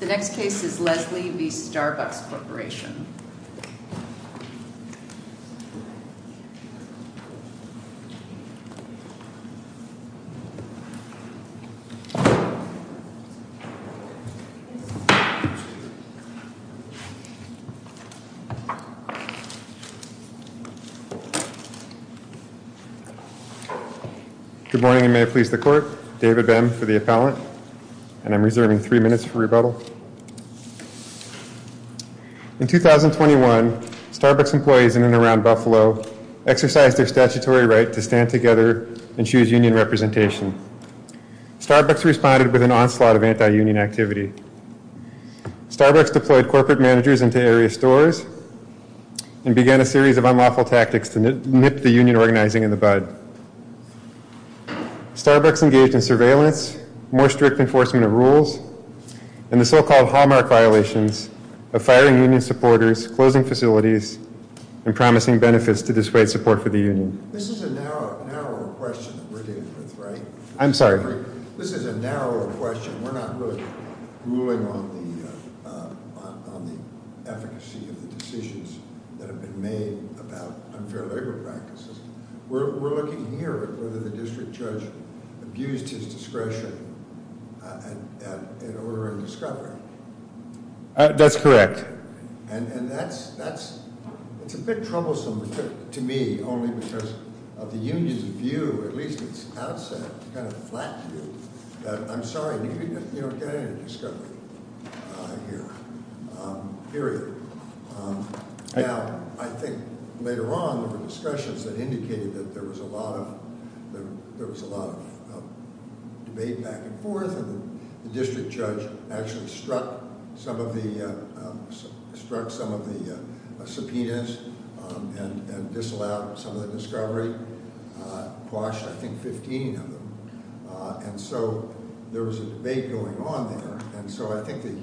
The next case is Leslie v. Starbucks Corporation. Good morning and may it please the court. David Bem for the appellant. And I'm reserving three minutes for rebuttal. In 2021, Starbucks employees in and around Buffalo exercised their statutory right to stand together and choose union representation. Starbucks responded with an onslaught of anti-union activity. Starbucks deployed corporate managers into area stores and began a series of unlawful tactics to nip the union organizing in the bud. Starbucks engaged in surveillance, more strict enforcement of rules, and the so-called hallmark violations of firing union supporters, closing facilities, and promising benefits to display support for the union. This is a narrower question that we're dealing with, right? I'm sorry? This is a narrower question. We're not really ruling on the efficacy of the decisions that have been made about unfair labor practices. We're looking here at whether the district judge abused his discretion in ordering discovery. That's correct. And that's, it's a bit troublesome to me only because of the union's view, at least its outset kind of flat view, that I'm sorry, you don't get any discovery here, period. Now, I think later on, there were discussions that indicated that there was a lot of, there was a lot of debate back and forth, and the district judge actually struck some of the, struck some of the subpoenas and disallowed some of the discovery, quashed, I think, 15 of them. And so there was a debate going on there. And so I think the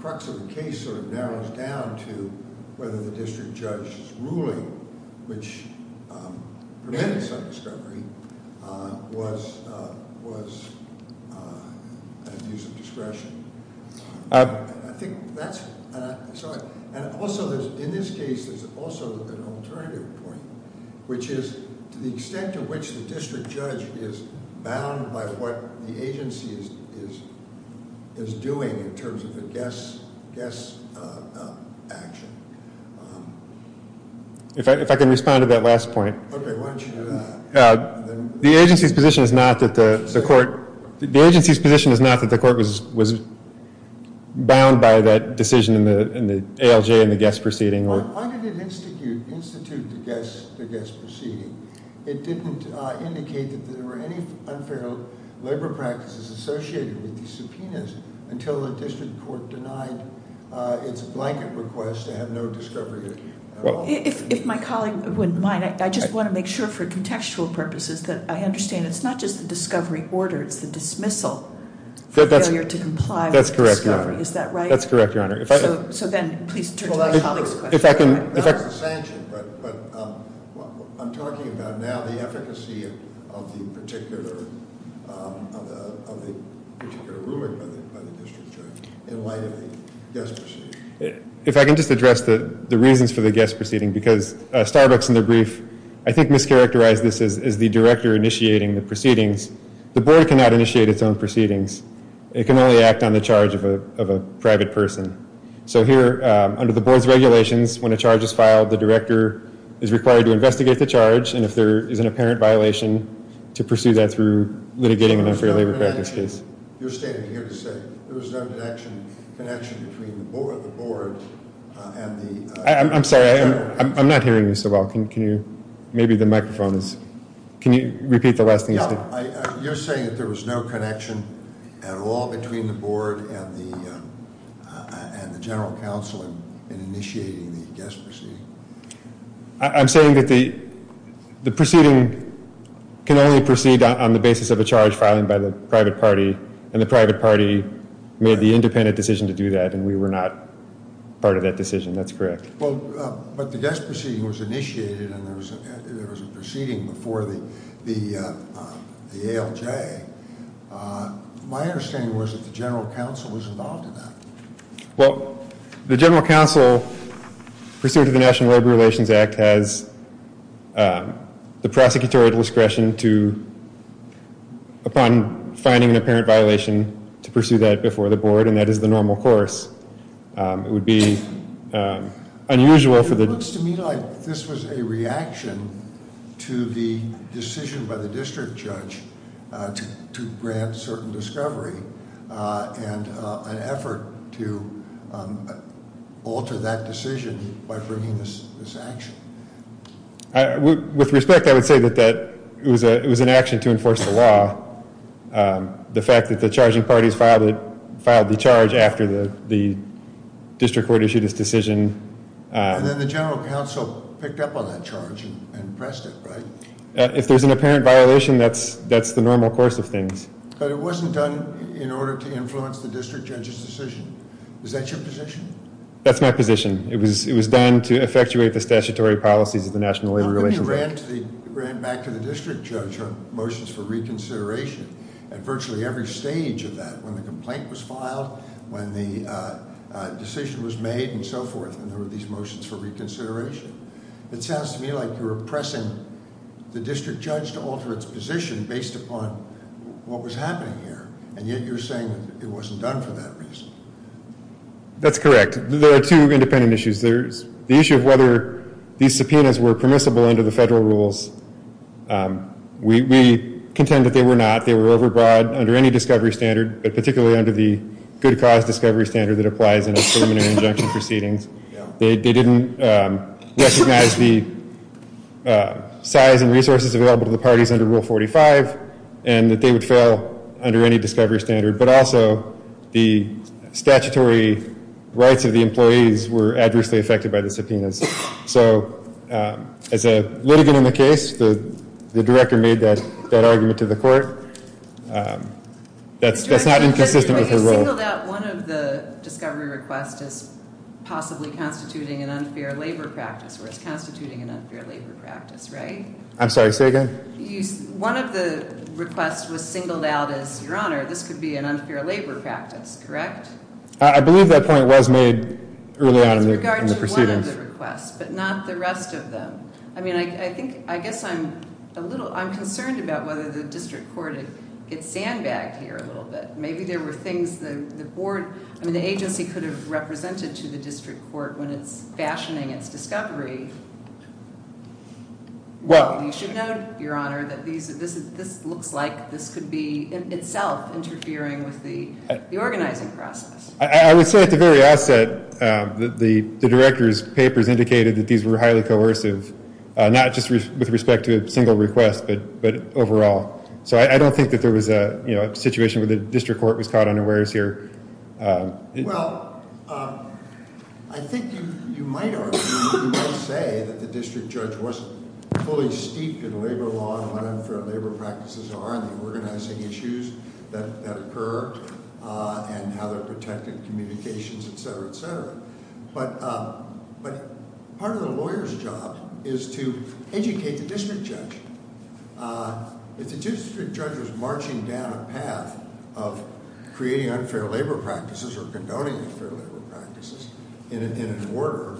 crux of the case sort of narrows down to whether the district judge's ruling, which prevented some discovery was an abuse of discretion. I think that's, and I'm sorry, and also there's, in this case, there's also an alternative point, which is to the extent to which the district judge is bound by what the agency is doing in terms of a guess action. If I can respond to that last point. Okay, why don't you do that. The agency's position is not that the court, the agency's position is not that the court was bound by that decision in the ALJ and the guess proceeding. Why did it institute the guess proceeding? It didn't indicate that there were any unfair labor practices associated with the subpoenas until the district court denied its blanket request to have no discovery at all. If my colleague wouldn't mind, I just want to make sure for contextual purposes that I understand it's not just the discovery order, it's the dismissal for failure to comply with discovery. Is that right? That's correct, your honor. So then please turn to my colleague's question. Not as a sanction, but I'm talking about now the efficacy of the particular ruling by the district judge in light of the guess proceeding. If I can just address the reasons for the guess proceeding because Starbucks in their brief, I think mischaracterized this as the director initiating the proceedings. The board cannot initiate its own proceedings. It can only act on the charge of a private person. So here under the board's regulations, when a charge is filed, the director is required to investigate the charge. And if there is an apparent violation to pursue that through litigating an unfair labor practice case. You're standing here to say there was no connection between the board and the... I'm sorry, I'm not hearing you so well. Maybe the microphone is... Can you repeat the last thing you said? You're saying that there was no connection at all between the board and the general counsel in initiating the guess proceeding? I'm saying that the proceeding can only proceed on the basis of a charge filing by the private party and the private party made the independent decision to do that and we were not part of that decision. That's correct. Well, but the guess proceeding was initiated and there was a proceeding before the ALJ. My understanding was that the general counsel was involved in that. Well, the general counsel pursuant to the National Labor Relations Act has the prosecutorial discretion to, upon finding an apparent violation to pursue that before the board and that is the normal course. It would be unusual for the... It looks to me like this was a reaction to the decision by the district judge to grant certain discovery and an effort to alter that decision by bringing this action. With respect, I would say that it was an action to enforce the law. The fact that the charging parties filed the charge after the district court issued his decision. And then the general counsel picked up on that charge and pressed it, right? If there's an apparent violation, that's the normal course of things. But it wasn't done in order to influence the district judge's decision. Is that your position? That's my position. It was done to effectuate the statutory policies of the National Labor Relations Act. I thought when you ran back to the district judge on motions for reconsideration at virtually every stage of that, when the complaint was filed, when the decision was made and so forth and there were these motions for reconsideration. It sounds to me like you're oppressing the district judge to alter its position based upon what was happening here. And yet you're saying it wasn't done for that reason. That's correct. There are two independent issues. There's the issue of whether these subpoenas were permissible under the federal rules. We contend that they were not. They were overbroad under any discovery standard, but particularly under the good cause discovery standard that applies in a preliminary injunction proceedings. They didn't recognize the size and resources available to the parties under Rule 45 and that they would fail under any discovery standard. But also the statutory rights of the employees were adversely affected by the subpoenas. So as a litigant in the case, the director made that argument to the court. That's not inconsistent with her role. You singled out one of the discovery requests as possibly constituting an unfair labor practice or as constituting an unfair labor practice, right? I'm sorry, say again. One of the requests was singled out as, your honor, this could be an unfair labor practice, correct? I believe that point was made early on in the proceedings. With regard to one of the requests, but not the rest of them. I mean, I think, I guess I'm a little, I'm concerned about whether the district court gets sandbagged here a little bit. Maybe there were things the board, I mean, the agency could have represented to the district court when it's fashioning its discovery. Well, you should know, your honor, that this looks like this could be itself interfering with the organizing process. I would say at the very outset, the director's papers indicated that these were highly coercive, not just with respect to a single request, but overall. So I don't think that there was a situation where the district court was caught unawares here. Well, I think you might argue, you might say that the district judge wasn't fully steeped in labor law and what unfair labor practices are and the organizing issues that occur and how they're protected, communications, et cetera, et cetera. But part of the lawyer's job is to educate the district judge. If the district judge was marching down a path of creating unfair labor practices or condoning unfair labor practices in an order,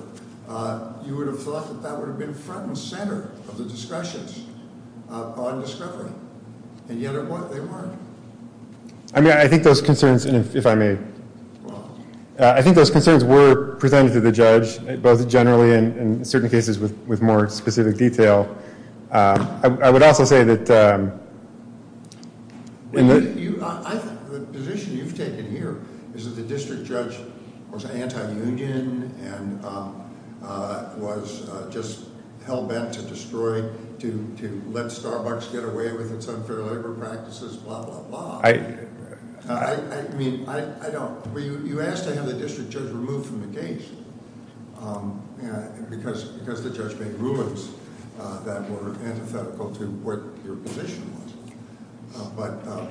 you would have thought that that would have been front and center of the discussions on discovery. And yet, they weren't. I mean, I think those concerns, and if I may, I think those concerns were presented to the judge, both generally and in certain cases with more specific detail. I would also say that, I think the position you've taken here is that the district judge was anti-union and was just hell-bent to destroy, to let Starbucks get away with its unfair labor practices, blah, blah, blah. I mean, I don't, well, you asked to have the district judge removed from the case because the judge made rulings that were antithetical to what your position was, but,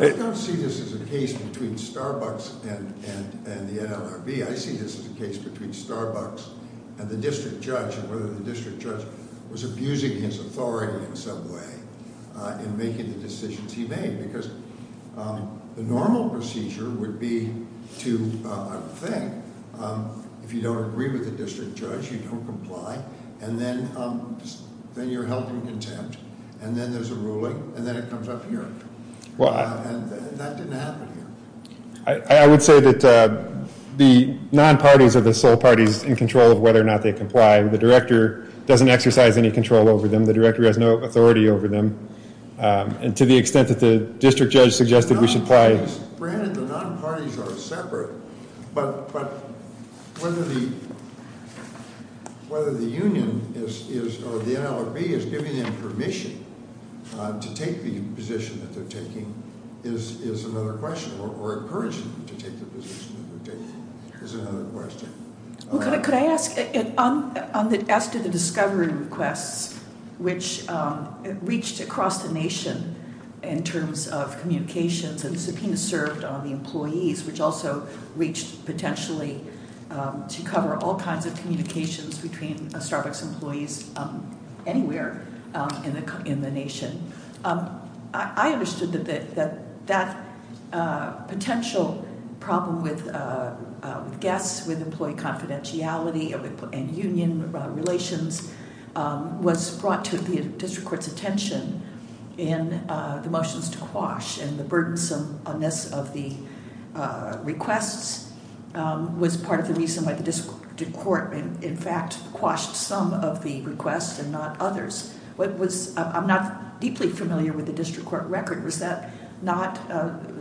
I don't see this as a case between Starbucks and the NLRB. I see this as a case between Starbucks and the district judge and whether the district judge was abusing his authority in some way in making the decisions he made because the normal procedure would be to, I would think, if you don't agree with the district judge, you don't comply, and then you're held in contempt, and then there's a ruling, and then it comes up here. Well, and that didn't happen here. I would say that the non-parties are the sole parties in control of whether or not they comply. The director doesn't exercise any control over them. The director has no authority over them, and to the extent that the district judge suggested we should apply- Granted, the non-parties are separate, but whether the union is, or the NLRB is giving them permission to take the position that they're taking is another question, or encouraging them to take the position that they're taking is another question. Well, could I ask, as to the discovery requests, which reached across the nation in terms of communications, and subpoenas served on the employees, which also reached, potentially, to cover all kinds of communications between Starbucks employees anywhere in the nation, I understood that that potential problem with guests, with employee confidentiality, and union relations was brought to the district court's attention in the motions to quash, and the burdensomeness of the requests was part of the reason why the district court, in fact, quashed some of the requests and not others. What was, I'm not deeply familiar with the district court record, was that not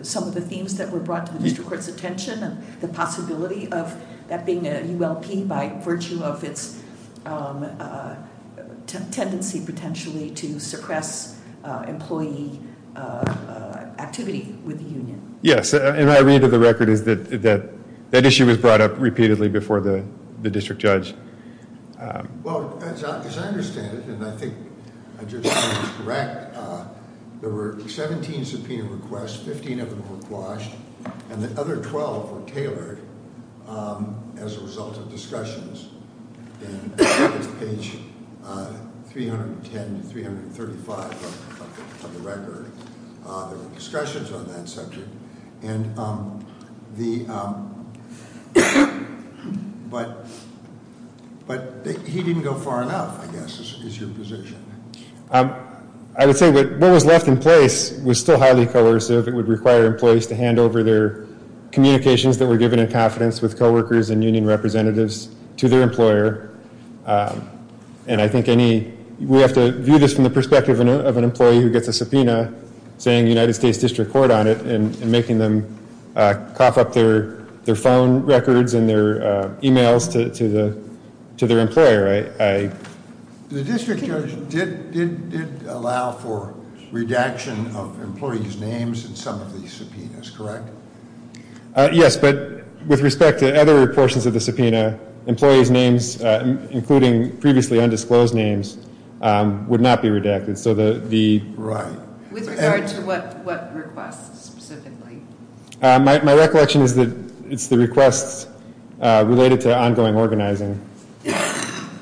some of the themes that were brought to the district court's attention, and the possibility of that being a ULP by virtue of its tendency, potentially, to suppress employee activity with the union? Yes, and my read of the record is that that issue was brought up repeatedly before the district judge. Well, as I understand it, and I think I just said it was correct, there were 17 subpoena requests, 15 of them were quashed, and the other 12 were tailored as a result of discussions, and I think it's page 310 to 335 of the record, there were discussions on that subject, and the, but he didn't go far enough, I guess, is your position. I would say what was left in place was still highly coercive. It would require employees to hand over their communications that were given in confidence with coworkers and union representatives to their employer, and I think any, we have to view this from the perspective of an employee who gets a subpoena, saying United States District Court on it, and making them cough up their phone records and their emails to their employer. The district judge did allow for redaction of employees' names in some of the subpoenas, correct? Yes, but with respect to other portions of the subpoena, employees' names, including previously undisclosed names, would not be redacted, so the. Right. With regard to what requests, specifically? My recollection is that it's the requests related to ongoing organizing.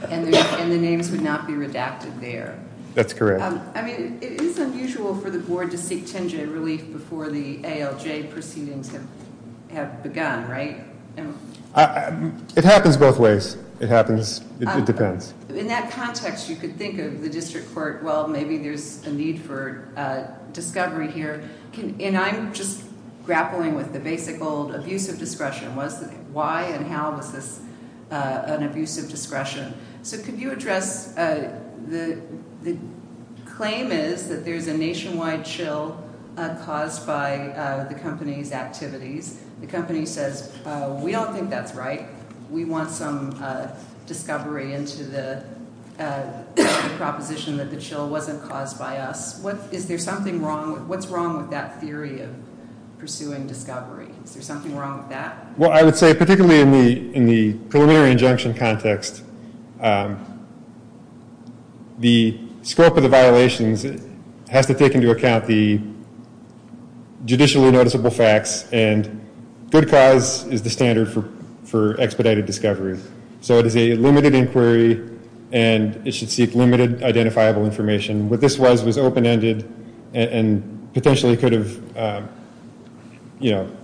And the names would not be redacted there. That's correct. I mean, it is unusual for the board to seek 10-J relief before the ALJ proceedings have begun, right? It happens both ways. It happens, it depends. In that context, you could think of the district court, well, maybe there's a need for discovery here. And I'm just grappling with the basic old abuse of discretion. Why and how was this an abuse of discretion? So could you address, the claim is that there's a nationwide chill caused by the company's activities. The company says, we don't think that's right. We want some discovery into the proposition that the chill wasn't caused by us. Is there something wrong? What's wrong with that theory of pursuing discovery? Is there something wrong with that? Well, I would say, particularly in the preliminary injunction context, the scope of the violations has to take into account the judicially noticeable facts, and good cause is the standard for expedited discovery. So it is a limited inquiry, and it should seek limited identifiable information. What this was was open-ended, and potentially could have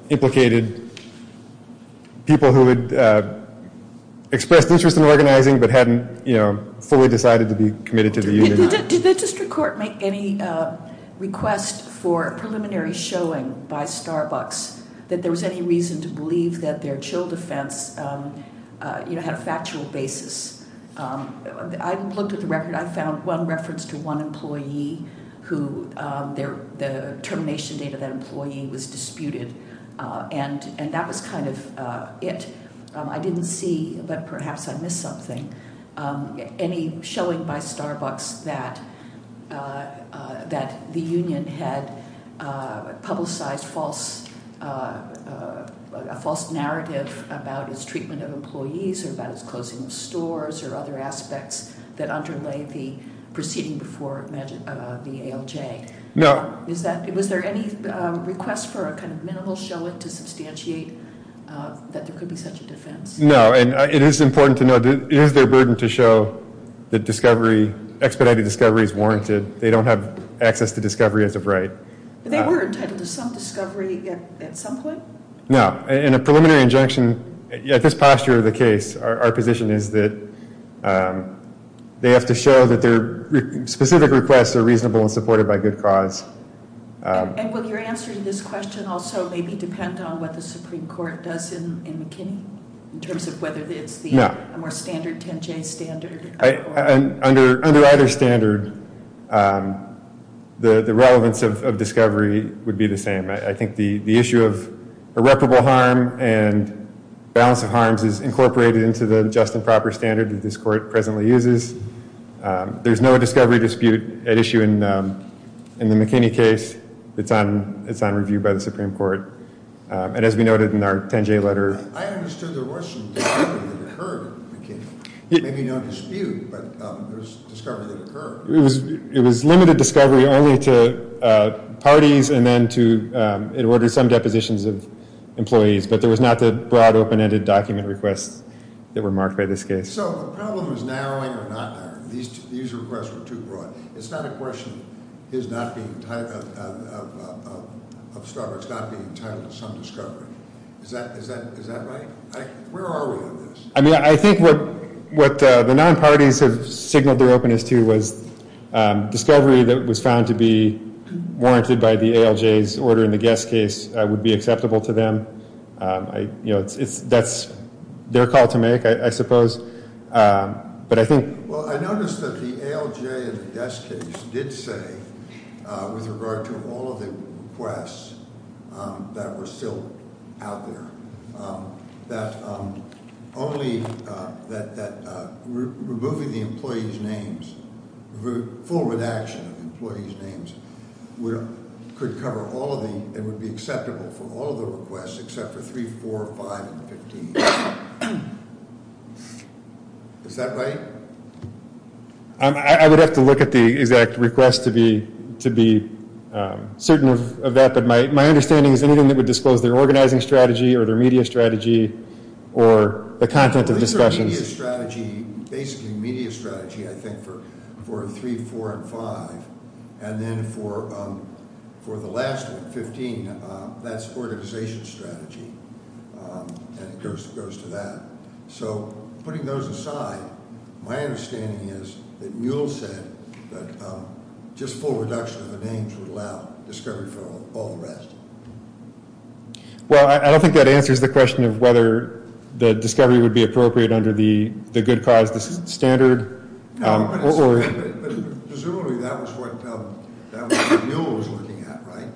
implicated people who had expressed interest in organizing, but hadn't fully decided to be committed to the union. Did the district court make any request for a preliminary showing by Starbucks that there was any reason to believe that their chill defense had a factual basis? I looked at the record, I found one reference to one employee who, the termination date of that employee was disputed, and that was kind of it. I didn't see, but perhaps I missed something, any showing by Starbucks that the union had publicized a false narrative about its treatment of employees, or about its closing of stores, or other aspects that underlay the proceeding before the ALJ. No. Is that, was there any request for a kind of minimal showing to substantiate that there could be such a defense? No, and it is important to know, it is their burden to show that discovery, expedited discovery is warranted. They don't have access to discovery as of right. They were entitled to some discovery at some point? No, in a preliminary injunction, at this posture of the case, our position is that they have to show that their specific requests are reasonable and supported by good cause. And will your answer to this question also maybe depend on what the Supreme Court does in McKinney, in terms of whether it's the more standard 10-J standard? Under either standard, the relevance of discovery would be the same. I think the issue of irreparable harm, and balance of harms is incorporated into the just and proper standard that this court presently uses. There's no discovery dispute at issue in the McKinney case. It's on review by the Supreme Court. And as we noted in our 10-J letter. I understood the Russian discovery that occurred in McKinney, maybe no dispute, but there's discovery that occurred. It was limited discovery only to parties, and then to, it ordered some depositions of employees, but there was not the broad open-ended document requests that were marked by this case. So the problem is narrowing or not narrowing. These requests were too broad. It's not a question of Starbucks not being entitled to some discovery. Is that right? Where are we on this? I mean, I think what the non-parties have signaled their openness to was discovery that was found to be warranted by the ALJ's order in the Guest case would be acceptable to them. That's their call to make, I suppose. But I think- Well, I noticed that the ALJ in the Guest case did say, with regard to all of the requests that were still out there, that only, that removing the employee's names, full redaction of employee's names could cover all of the, it would be acceptable for all of the requests except for three, four, five, and 15. Is that right? I would have to look at the exact request to be certain of that, but my understanding is anything that would disclose their organizing strategy or their media strategy or the content of discussions. These are media strategy, basically media strategy, I think, for three, four, and five. And then for the last one, 15, that's organization strategy, and it goes to that. So, putting those aside, my understanding is that Mule said that just full reduction of the names would allow discovery for all the rest. Well, I don't think that answers the question of whether the discovery would be appropriate under the good cause standard, or- Presumably, that was what Mule was looking at, right?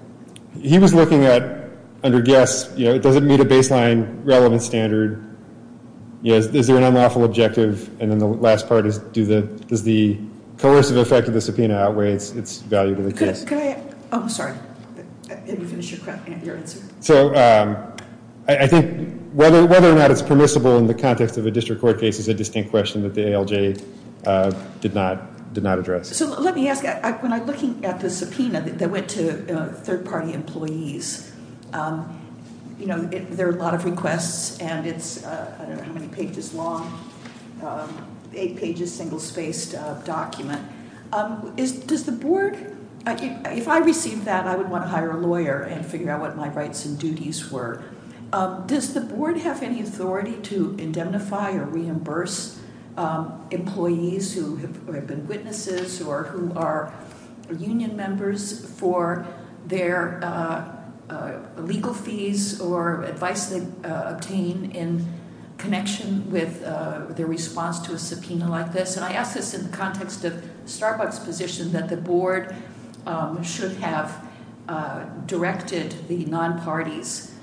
He was looking at, under guess, does it meet a baseline relevant standard? Is there an unlawful objective? And then the last part is, does the coercive effect of the subpoena outweigh its value to the case? Could I, oh, sorry, let me finish your answer. So, I think whether or not it's permissible in the context of a district court case is a distinct question that the ALJ did not address. So, let me ask, when I'm looking at the subpoena that went to third-party employees, you know, there are a lot of requests, and it's, I don't know how many pages long, eight pages, single-spaced document. Does the board, if I received that, I would want to hire a lawyer and figure out what my rights and duties were. Does the board have any authority to indemnify or reimburse employees who have been witnesses or who are union members for their legal fees or advice they obtain in connection with their response to a subpoena like this? And I ask this in the context of Starbucks' position that the board should have directed the non-parties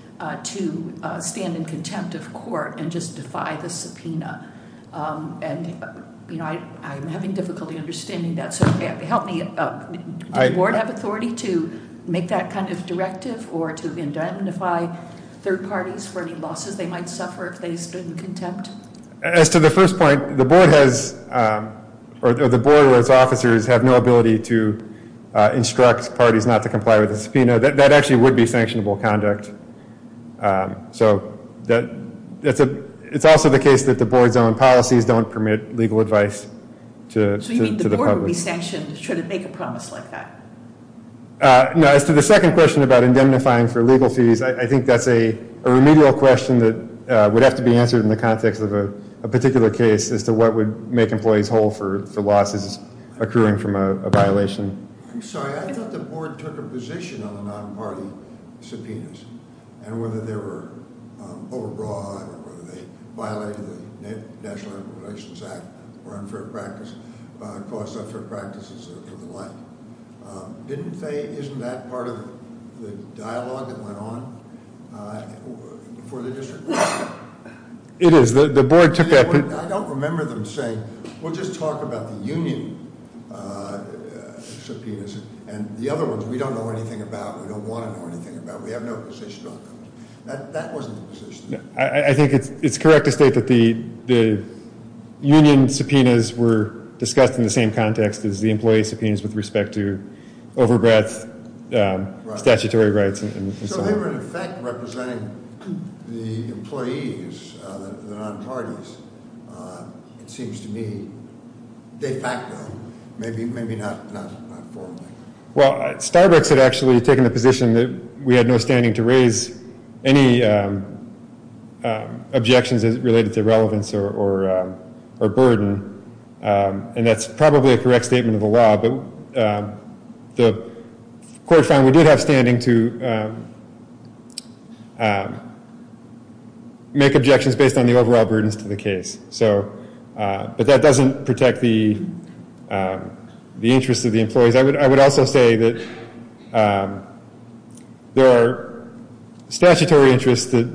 to stand in contempt of court and just defy the subpoena. And, you know, I'm having difficulty understanding that. So, help me, does the board have authority to make that kind of directive or to indemnify third-parties for any losses they might suffer if they stand in contempt? As to the first point, the board has, or the board as officers have no ability to instruct parties not to comply with the subpoena. That actually would be sanctionable conduct. So, it's also the case that the board's own policies don't permit legal advice to the public. So, you mean the board would be sanctioned should it make a promise like that? No, as to the second question about indemnifying for legal fees, I think that's a remedial question that would have to be answered in the context of a particular case as to what would make employees whole for losses occurring from a violation. I'm sorry, I thought the board took a position on the non-party subpoenas and whether they were overbroad, whether they violated the National Immigrations Act or unfair practice, caused unfair practices and the like. Didn't they, isn't that part of the dialogue that went on before the district? It is, the board took that. I don't remember them saying, we'll just talk about the union subpoenas and the other ones we don't know anything about, we don't want to know anything about, we have no position on them. That wasn't the position. I think it's correct to state that the union subpoenas were discussed in the same context as the employee subpoenas with respect to overbreadth, statutory rights and so on. So, they were in effect representing the employees, the non-parties, it seems to me, de facto, maybe not formally. Well, Starbucks had actually taken the position that we had no standing to raise any objections related to relevance or burden, and that's probably a correct statement of the law, but the court found we did have standing to make objections based on the overall burdens to the case. So, but that doesn't protect the interest of the employees. I would also say that there are statutory interests that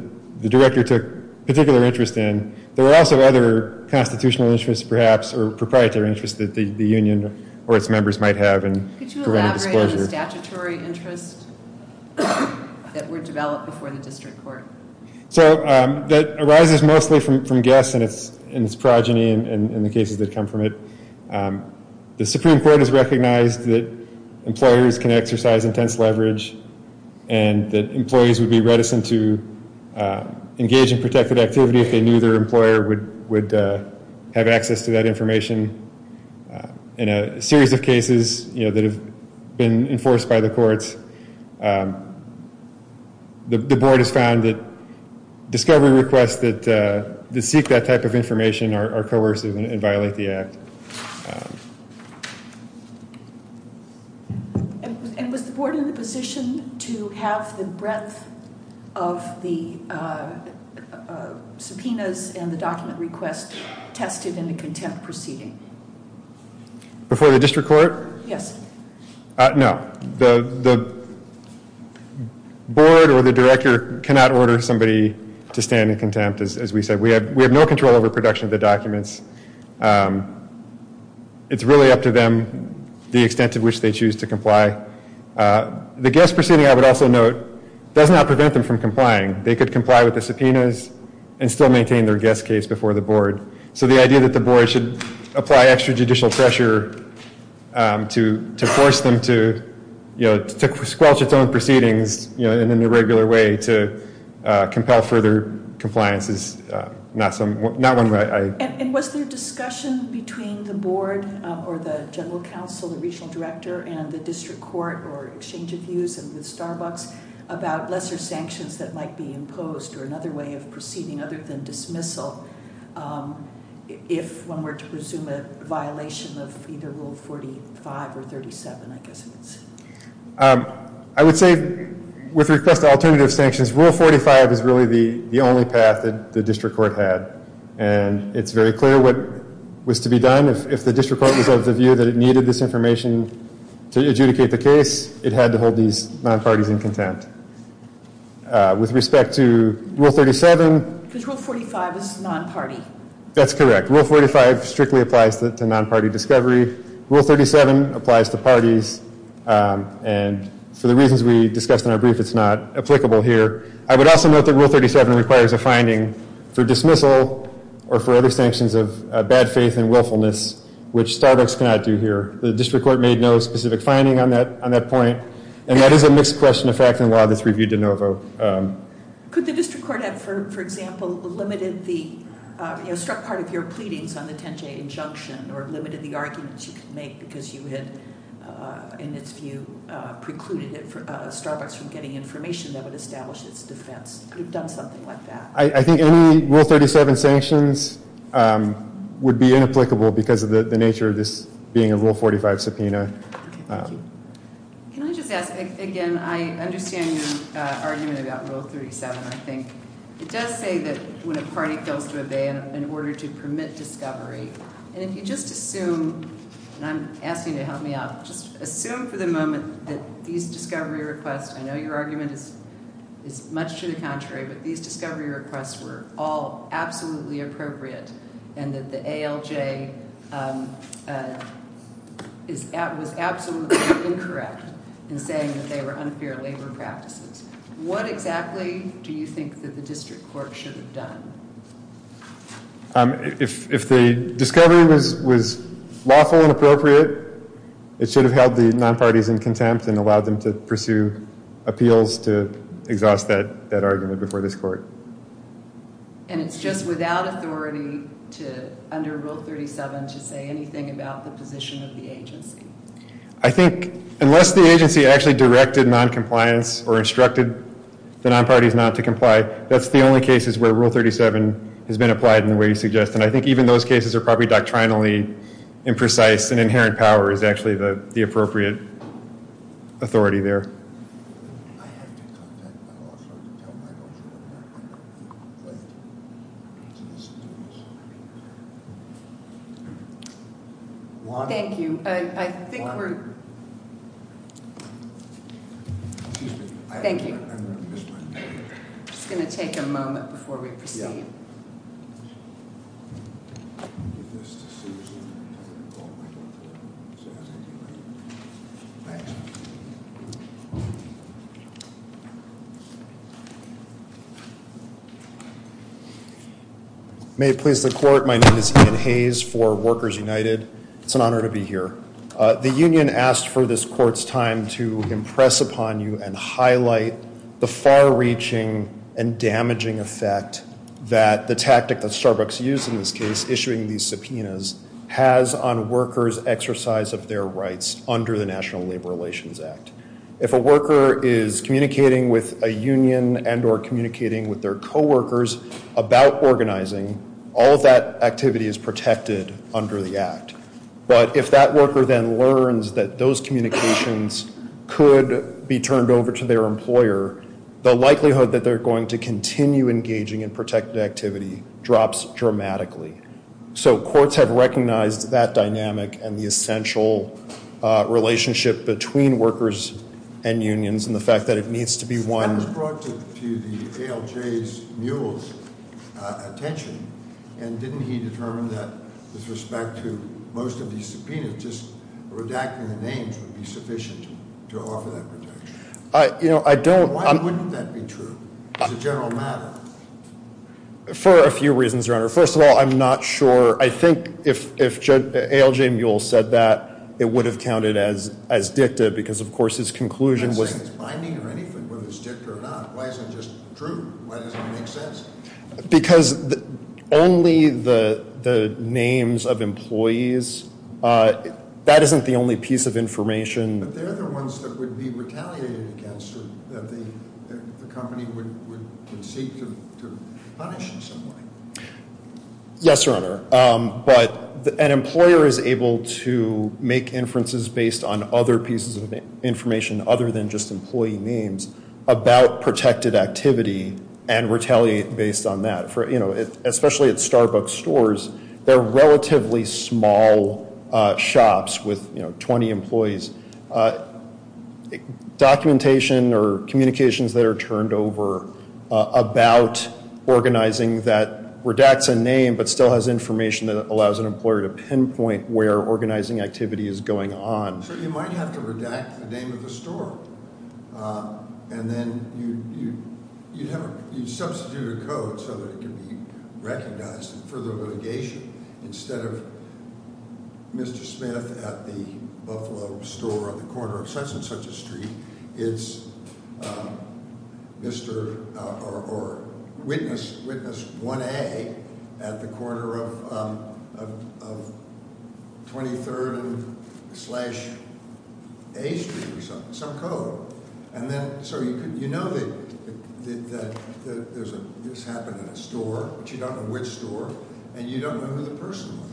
the director took particular interest in. There were also other constitutional interests, perhaps, or proprietary interests that the union or its members might have in preventing disclosure. Could you elaborate on the statutory interests that were developed before the district court? So, that arises mostly from guess and its progeny and the cases that come from it. The Supreme Court has recognized that employers can exercise intense leverage and that employees would be reticent to engage in protected activity if they knew their employer would have access to that information. In a series of cases that have been enforced by the courts, the board has found that discovery requests that seek that type of information are coercive and violate the act. And was the board in the position to have the breadth of the subpoenas and the document request tested in the contempt proceeding? Before the district court? Yes. No, the board or the director cannot order somebody to stand in contempt, as we said. We have no control over production of the documents. It's really up to them, the extent to which they choose to comply. The guest proceeding, I would also note, does not prevent them from complying. They could comply with the subpoenas and still maintain their guest case before the board. So, the idea that the board should apply extrajudicial pressure to force them to squelch its own proceedings in an irregular way to compel further compliance is not one way I... And was there discussion between the board or the general counsel, the regional director, and the district court or exchange of views and with Starbucks about lesser sanctions that might be imposed or another way of proceeding other than dismissal if one were to presume a violation of either Rule 45 or 37, I guess it's... I would say, with request of alternative sanctions, Rule 45 is really the only path that the district court had. And it's very clear what was to be done. If the district court was of the view that it needed this information to adjudicate the case, it had to hold these non-parties in contempt. With respect to Rule 37... Because Rule 45 is non-party. That's correct. Rule 45 strictly applies to non-party discovery. Rule 37 applies to parties. And for the reasons we discussed in our brief, it's not applicable here. I would also note that Rule 37 requires a finding for dismissal or for other sanctions of bad faith and willfulness, which Starbucks cannot do here. The district court made no specific finding on that point. And that is a mixed question of fact and law that's reviewed de novo. Could the district court have, for example, limited the, struck part of your pleadings on the Tenjay injunction, or limited the arguments you could make because you had, in its view, precluded Starbucks from getting information that would establish its defense? Could have done something like that. I think any Rule 37 sanctions would be inapplicable because of the nature of this being a Rule 45 subpoena. I understand your argument about Rule 37, I think. It does say that when a party fails to obey in order to permit discovery. And if you just assume, and I'm asking you to help me out, just assume for the moment that these discovery requests, I know your argument is much to the contrary, but these discovery requests were all absolutely appropriate and that the ALJ was absolutely incorrect in saying that they were unfair labor practices. What exactly do you think that the district court should have done? If the discovery was lawful and appropriate, it should have held the non-parties in contempt and allowed them to pursue appeals to exhaust that argument before this court. And it's just without authority to, under Rule 37, to say anything about the position of the agency? I think unless the agency actually directed noncompliance or instructed the non-parties not to comply, that's the only cases where Rule 37 has been applied in the way you suggest. And I think even those cases are probably doctrinally imprecise and inherent power is actually the appropriate authority there. Thank you. Thank you. Just gonna take a moment before we proceed. May it please the court, my name is Ian Hayes for Workers United. It's an honor to be here. The union asked for this court's time to impress upon you and highlight the far-reaching and damaging effect that the tactic that Starbucks used in this case, issuing these subpoenas, has on workers' exercise of their rights under the National Labor Relations Act. If a worker is communicating with a union and or communicating with their coworkers about organizing, all of that activity is protected under the act. But if that worker then learns that those communications could be turned over to their employer, the likelihood that they're going to continue engaging in protected activity drops dramatically. So courts have recognized that dynamic and the essential relationship between workers and unions and the fact that it needs to be one. That was brought to the ALJ's, Mule's attention and didn't he determine that with respect to most of these subpoenas, just redacting the names would be sufficient to offer that protection? I, you know, I don't. Why wouldn't that be true? It's a general matter. For a few reasons, Your Honor. First of all, I'm not sure. I think if ALJ Mule said that, it would have counted as dicta because of course his conclusion was. I'm not saying it's binding or anything, whether it's dicta or not. Why is it just true? Why does it make sense? Because only the names of employees, that isn't the only piece of information. But they're the ones that would be retaliated against or that the company would seek to punish in some way. Yes, Your Honor. But an employer is able to make inferences based on other pieces of information other than just employee names about protected activity and retaliate based on that. Especially at Starbucks stores, they're relatively small shops with 20 employees. Documentation or communications that are turned over about organizing that redacts a name but still has information that allows an employer to pinpoint where organizing activity is going on. So you might have to redact the name of the store. And then you'd substitute a code so that it can be recognized in further litigation. Instead of Mr. Smith at the Buffalo store on the corner of such and such a street, it's Mr. or Witness 1A at the corner of 23rd slash A street or something, some code. And then, so you know that this happened in a store, but you don't know which store and you don't know who the person was.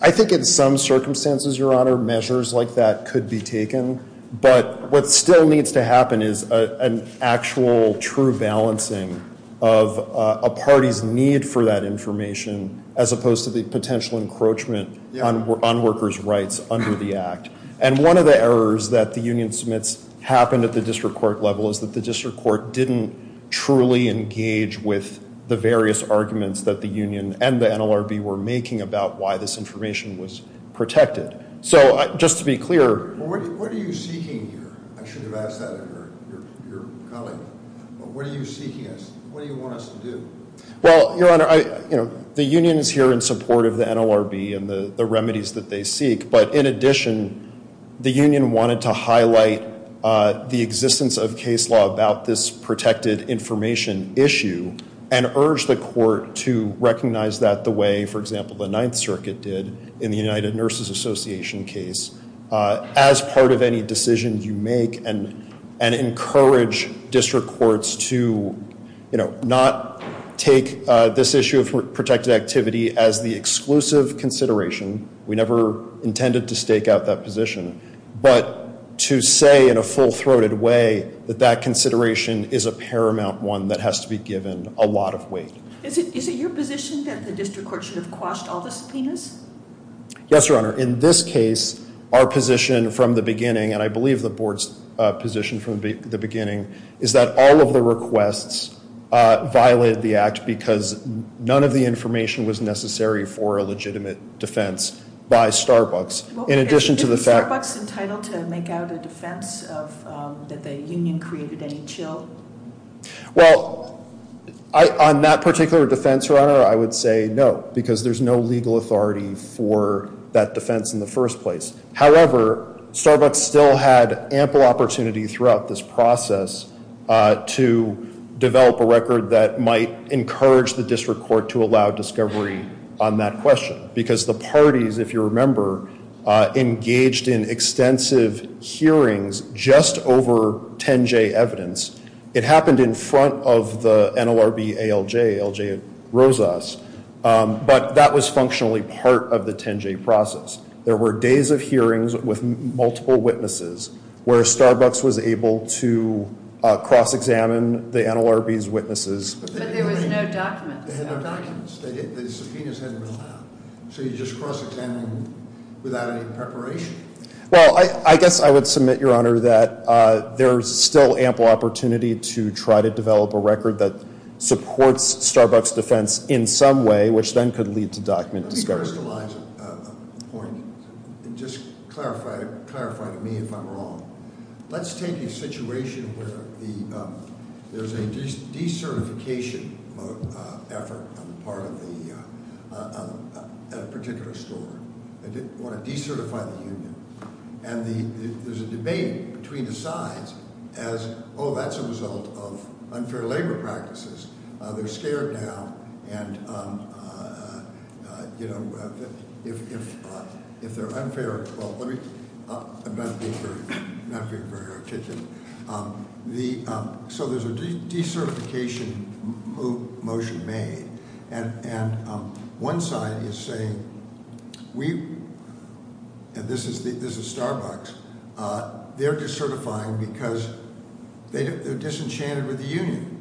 I think in some circumstances, Your Honor, measures like that could be taken. But what still needs to happen is an actual true balancing of a party's need for that information as opposed to the potential encroachment on workers' rights under the act. And one of the errors that the union submits happened at the district court level is that the district court didn't truly engage with the various arguments that the union and the NLRB were making about why this information was protected. So just to be clear. What are you seeking here? I should have asked that of your colleague. What are you seeking us, what do you want us to do? Well, Your Honor, the union is here in support of the NLRB and the remedies that they seek. But in addition, the union wanted to highlight the existence of case law about this protected information issue and urged the court to recognize that the way, for example, the Ninth Circuit did in the United Nurses Association case as part of any decision you make and encourage district courts to, you know, not take this issue of protected activity as the exclusive consideration. We never intended to stake out that position. But to say in a full-throated way that that consideration is a paramount one that has to be given a lot of weight. Is it your position that the district court should have quashed all the subpoenas? Yes, Your Honor. In this case, our position from the beginning, and I believe the board's position from the beginning, is that all of the requests violated the act because none of the information was necessary for a legitimate defense by Starbucks. In addition to the fact- Is Starbucks entitled to make out a defense that the union created any chill? Well, on that particular defense, Your Honor, I would say no, because there's no legal authority for that defense in the first place. However, Starbucks still had ample opportunity throughout this process to develop a record that might encourage the district court to allow discovery on that question. Because the parties, if you remember, engaged in extensive hearings just over 10-J evidence. It happened in front of the NLRB ALJ, ALJ-Rosas, but that was functionally part of the 10-J process. There were days of hearings with multiple witnesses where Starbucks was able to cross-examine the NLRB's witnesses. But there was no documents. They had no documents. The subpoenas hadn't been allowed. So you just cross-examined without any preparation. Well, I guess I would submit, Your Honor, that there's still ample opportunity to try to develop a record that supports Starbucks' defense in some way, which then could lead to document discovery. Let me crystallize a point, and just clarify to me if I'm wrong. Let's take a situation where there's a decertification effort on the part of a particular store. They want to decertify the union. And there's a debate between the sides as, oh, that's a result of unfair labor practices. They're scared now. And, you know, if they're unfair, well, let me, I'm not being very articulate. So there's a decertification motion made. And one side is saying, and this is Starbucks, they're decertifying because they're disenchanted with the union.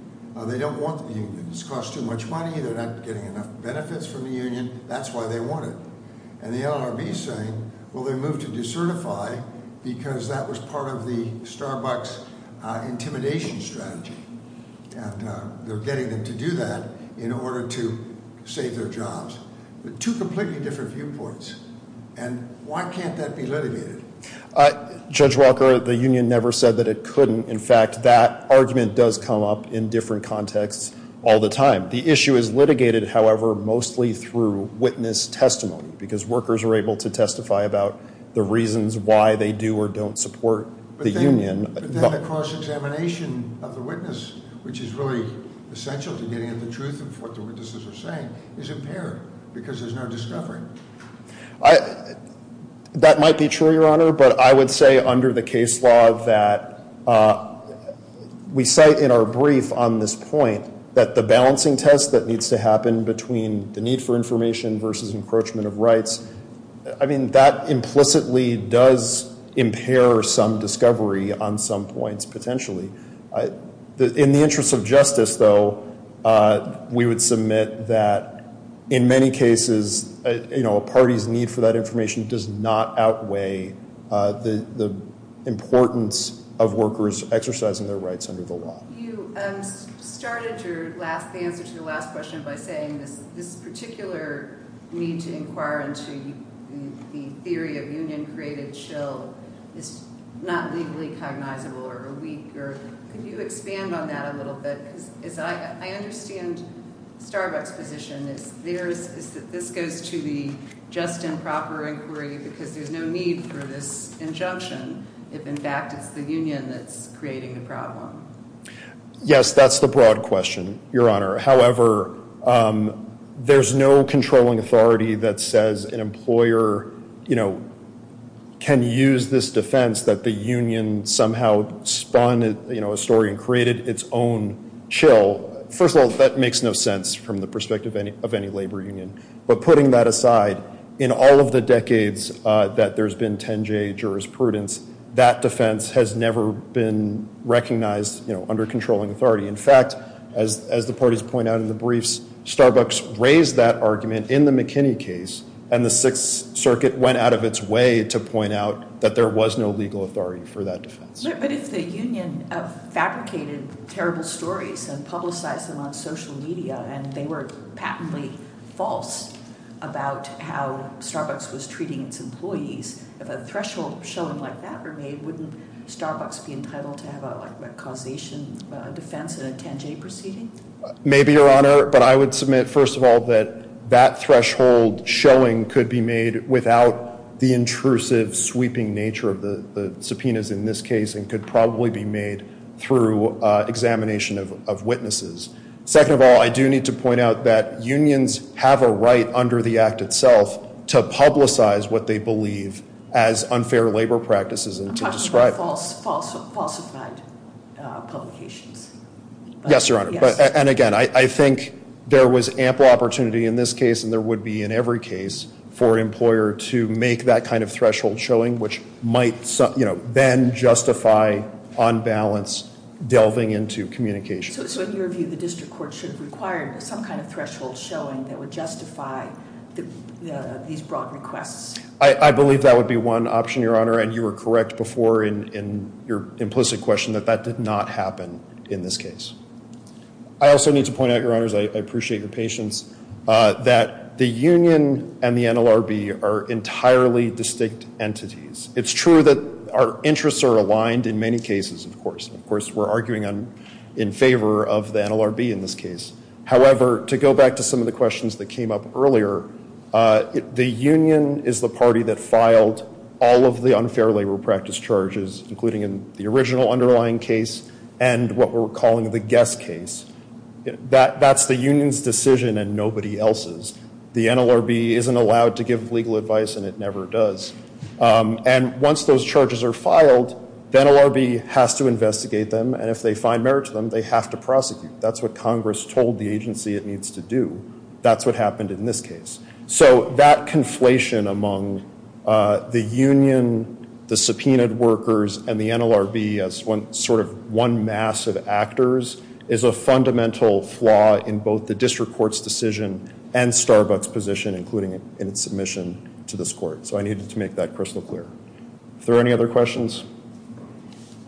They don't want the union. It's cost too much money. They're not getting enough benefits from the union. That's why they want it. And the LRB is saying, well, they moved to decertify because that was part of the Starbucks intimidation strategy. And they're getting them to do that in order to save their jobs. But two completely different viewpoints. And why can't that be litigated? Judge Walker, the union never said that it couldn't. In fact, that argument does come up in different contexts all the time. The issue is litigated, however, mostly through witness testimony because workers are able to testify about the reasons why they do or don't support the union. But then the cross-examination of the witness, which is really essential to getting at the truth of what the witnesses are saying, is impaired because there's no discovery. That might be true, Your Honor, but I would say under the case law that we cite in our brief on this point that the balancing test that needs to happen between the need for information versus encroachment of rights, I mean, that implicitly does impair some discovery on some points potentially. In the interest of justice, though, we would submit that in many cases, a party's need for that information does not outweigh the importance of workers exercising their rights under the law. You started your last answer to the last question by saying this particular need to inquire into the theory of union-created chill is not legally cognizable or weak, or could you expand on that a little bit? As I understand Starbucks' position, is that this goes to the just and proper inquiry because there's no need for this injunction if, in fact, it's the union that's creating the problem. Yes, that's the broad question, Your Honor. However, there's no controlling authority that says an employer can use this defense that the union somehow spun a story and created its own chill. First of all, that makes no sense from the perspective of any labor union, but putting that aside, in all of the decades that there's been 10-J jurisprudence, that defense has never been recognized under controlling authority. In fact, as the parties point out in the briefs, Starbucks raised that argument in the McKinney case, and the Sixth Circuit went out of its way to point out that there was no legal authority for that defense. But if the union fabricated terrible stories and publicized them on social media and they were patently false about how Starbucks was treating its employees, if a threshold showing like that were made, wouldn't Starbucks be entitled to have a causation defense in a 10-J proceeding? Maybe, Your Honor, but I would submit, first of all, that that threshold showing could be made without the intrusive, sweeping nature of the subpoenas in this case, and could probably be made through examination of witnesses. Second of all, I do need to point out that unions have a right under the act itself to publicize what they believe as unfair labor practices and to describe. They're falsified publications. Yes, Your Honor, and again, I think there was ample opportunity in this case and there would be in every case for an employer to make that kind of threshold showing which might then justify, on balance, delving into communication. So in your view, the district court should require some kind of threshold showing that would justify these broad requests? I believe that would be one option, Your Honor, and you were correct before in your implicit question that that did not happen in this case. I also need to point out, Your Honors, I appreciate your patience, that the union and the NLRB are entirely distinct entities. It's true that our interests are aligned in many cases, of course. Of course, we're arguing in favor of the NLRB in this case. However, to go back to some of the questions that came up earlier, the union is the party that filed all of the unfair labor practice charges, including in the original underlying case and what we're calling the guest case. That's the union's decision and nobody else's. The NLRB isn't allowed to give legal advice and it never does. And once those charges are filed, the NLRB has to investigate them and if they find merit to them, they have to prosecute. That's what Congress told the agency it needs to do. That's what happened in this case. So that conflation among the union, the subpoenaed workers, and the NLRB as sort of one massive actors is a fundamental flaw in both the district court's decision and Starbuck's position, including in its submission to this court. So I needed to make that crystal clear. If there are any other questions?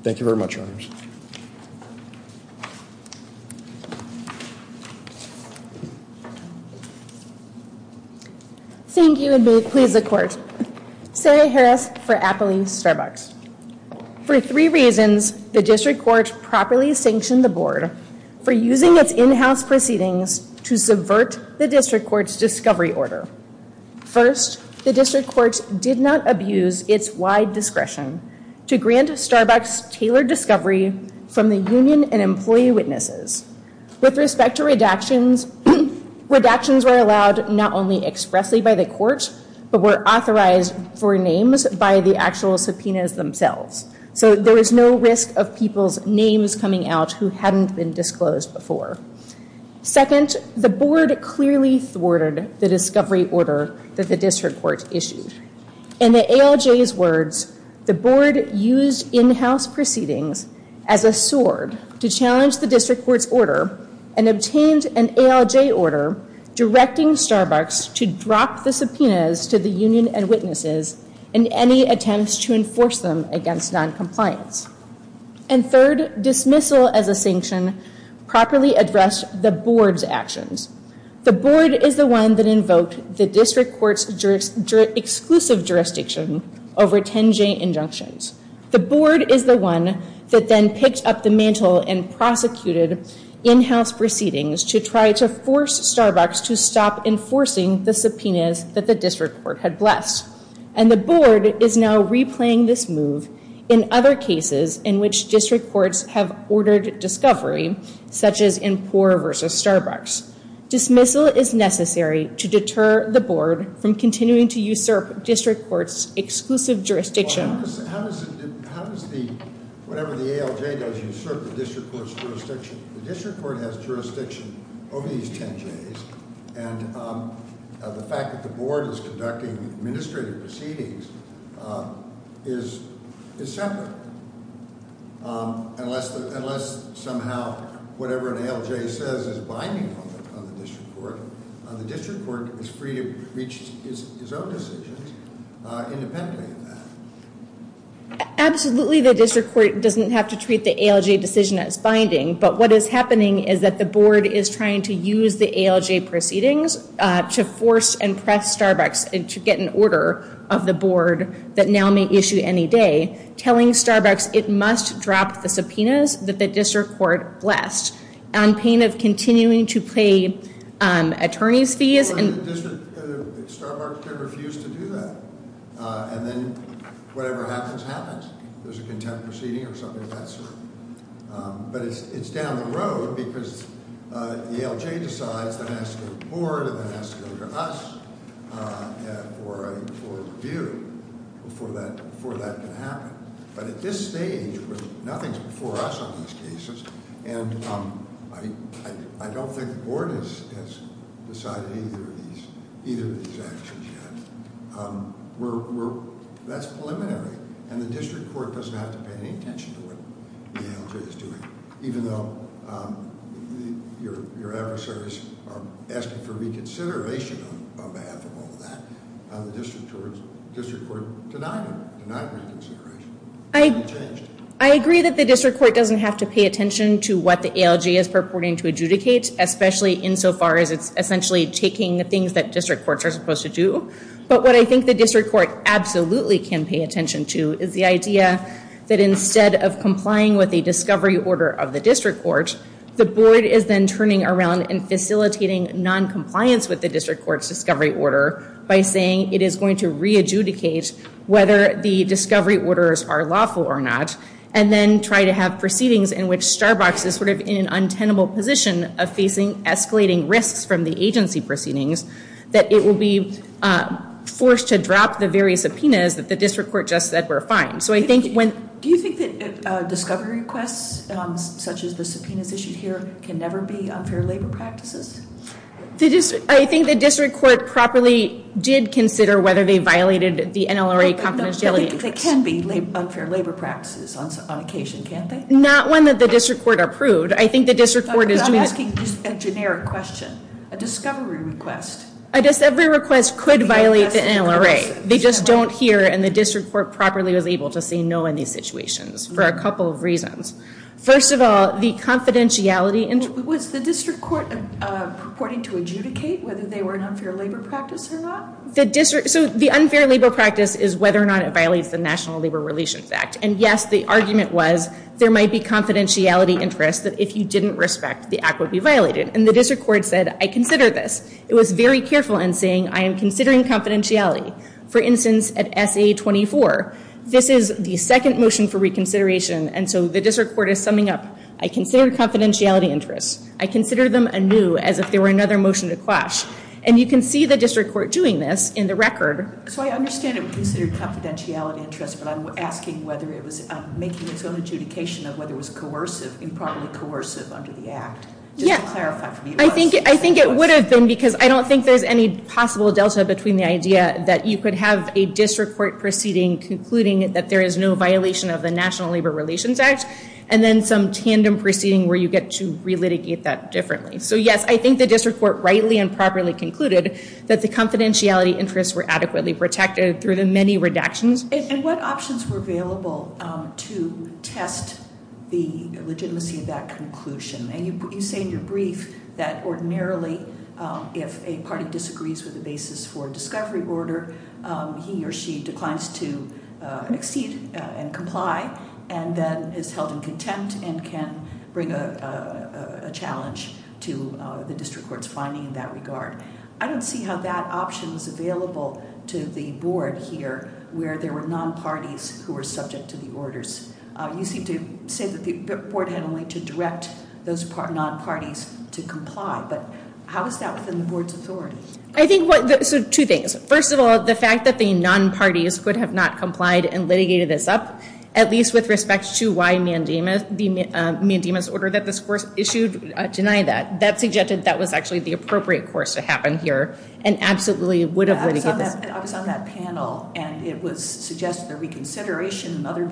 Thank you very much, Your Honors. Thank you and may it please the court. Sarah Harris for Appley Starbucks. For three reasons, the district court properly sanctioned the board for using its in-house proceedings to subvert the district court's discovery order. First, the district court did not abuse its wide discretion to grant Starbuck's tailored discovery from the union and employee witnesses. With respect to redactions, redactions were allowed not only expressly by the court, but were authorized for names by the actual subpoenas themselves. So there was no risk of people's names coming out who hadn't been disclosed before. Second, the board clearly thwarted the discovery order that the district court issued. In the ALJ's words, the board used in-house proceedings as a sword to challenge the district court's order and obtained an ALJ order directing Starbuck's to drop the subpoenas to the union and witnesses in any attempts to enforce them against noncompliance. And third, dismissal as a sanction properly addressed the board's actions. The board is the one that invoked the district court's exclusive jurisdiction over 10J injunctions. The board is the one that then picked up the mantle and prosecuted in-house proceedings to try to force Starbuck's to stop enforcing the subpoenas that the district court had blessed. And the board is now replaying this move in other cases in which district courts have ordered discovery, such as in Poor versus Starbuck's. Dismissal is necessary to deter the board from continuing to usurp district court's exclusive jurisdiction. How does the, whatever the ALJ does, usurp the district court's jurisdiction? The district court has jurisdiction over these 10Js and the fact that the board is conducting administrative proceedings is separate. Unless somehow whatever an ALJ says is binding on the district court, the district court is free to reach its own decisions independently of that. Absolutely, the district court doesn't have to treat the ALJ decision as binding, but what is happening is that the board is trying to use the ALJ proceedings to force and press Starbuck's to get an order of the board that now may issue any day telling Starbuck's it must drop the subpoenas that the district court blessed. On pain of continuing to pay attorney's fees and- The district, Starbuck can refuse to do that and then whatever happens, happens. There's a contempt proceeding or something of that sort. But it's down the road because the ALJ decides that it has to go to the board and then it has to go to us for a court review before that can happen. But at this stage, nothing's before us on these cases and I don't think the board has decided on either of these actions yet. That's preliminary and the district court doesn't have to pay any attention to what the ALJ is doing. Even though your adversaries are asking for reconsideration on behalf of all of that, the district court denied them, denied reconsideration. It hasn't changed. I agree that the district court doesn't have to pay attention to what the ALJ is purporting to adjudicate, especially insofar as it's essentially taking the things that district courts are supposed to do. But what I think the district court absolutely can pay attention to is the idea that instead of complying with a discovery order of the district court, the board is then turning around and facilitating non-compliance with the district court's discovery order by saying it is going to re-adjudicate whether the discovery orders are lawful or not and then try to have proceedings in which Starbucks is sort of in an untenable position of facing escalating risks from the agency proceedings that it will be forced to drop the various subpoenas that the district court just said were fine. So I think when- Do you think that discovery requests such as the subpoenas issued here can never be unfair labor practices? I think the district court properly did consider whether they violated the NLRA confidentiality. They can be unfair labor practices on occasion, can't they? Not one that the district court approved. I think the district court is- I'm asking just a generic question. A discovery request. A discovery request could violate the NLRA. They just don't hear and the district court properly was able to say no in these situations for a couple of reasons. First of all, the confidentiality- Was the district court purporting to adjudicate whether they were an unfair labor practice or not? So the unfair labor practice is whether or not it violates the National Labor Relations Act. And yes, the argument was, there might be confidentiality interest that if you didn't respect, the act would be violated. And the district court said, I consider this. It was very careful in saying, I am considering confidentiality. For instance, at SA-24, this is the second motion for reconsideration and so the district court is summing up, I consider confidentiality interest. I consider them anew as if they were another motion to quash. And you can see the district court doing this in the record. So I understand it was considered confidentiality interest but I'm asking whether it was making its own adjudication of whether it was coercive, improperly coercive under the act. Just to clarify for me. I think it would have been because I don't think there's any possible delta between the idea that you could have a district court proceeding concluding that there is no violation of the National Labor Relations Act and then some tandem proceeding where you get to relitigate that differently. So yes, I think the district court rightly and properly concluded that the confidentiality interests were adequately protected through the many redactions. And what options were available to test the legitimacy of that conclusion? And you say in your brief that ordinarily if a party disagrees with the basis for discovery order, he or she declines to exceed and comply and then is held in contempt and can bring a challenge to the district court's finding in that regard. I don't see how that option is available to the board here where there were non-parties who were subject to the orders. You seem to say that the board had a way to direct those non-parties to comply, but how is that within the board's authority? I think, so two things. First of all, the fact that the non-parties could have not complied and litigated this up, at least with respect to why the mandamus order that this court issued denied that. to happen here and absolutely would have litigated this. I was on that panel and it was suggested that reconsideration and other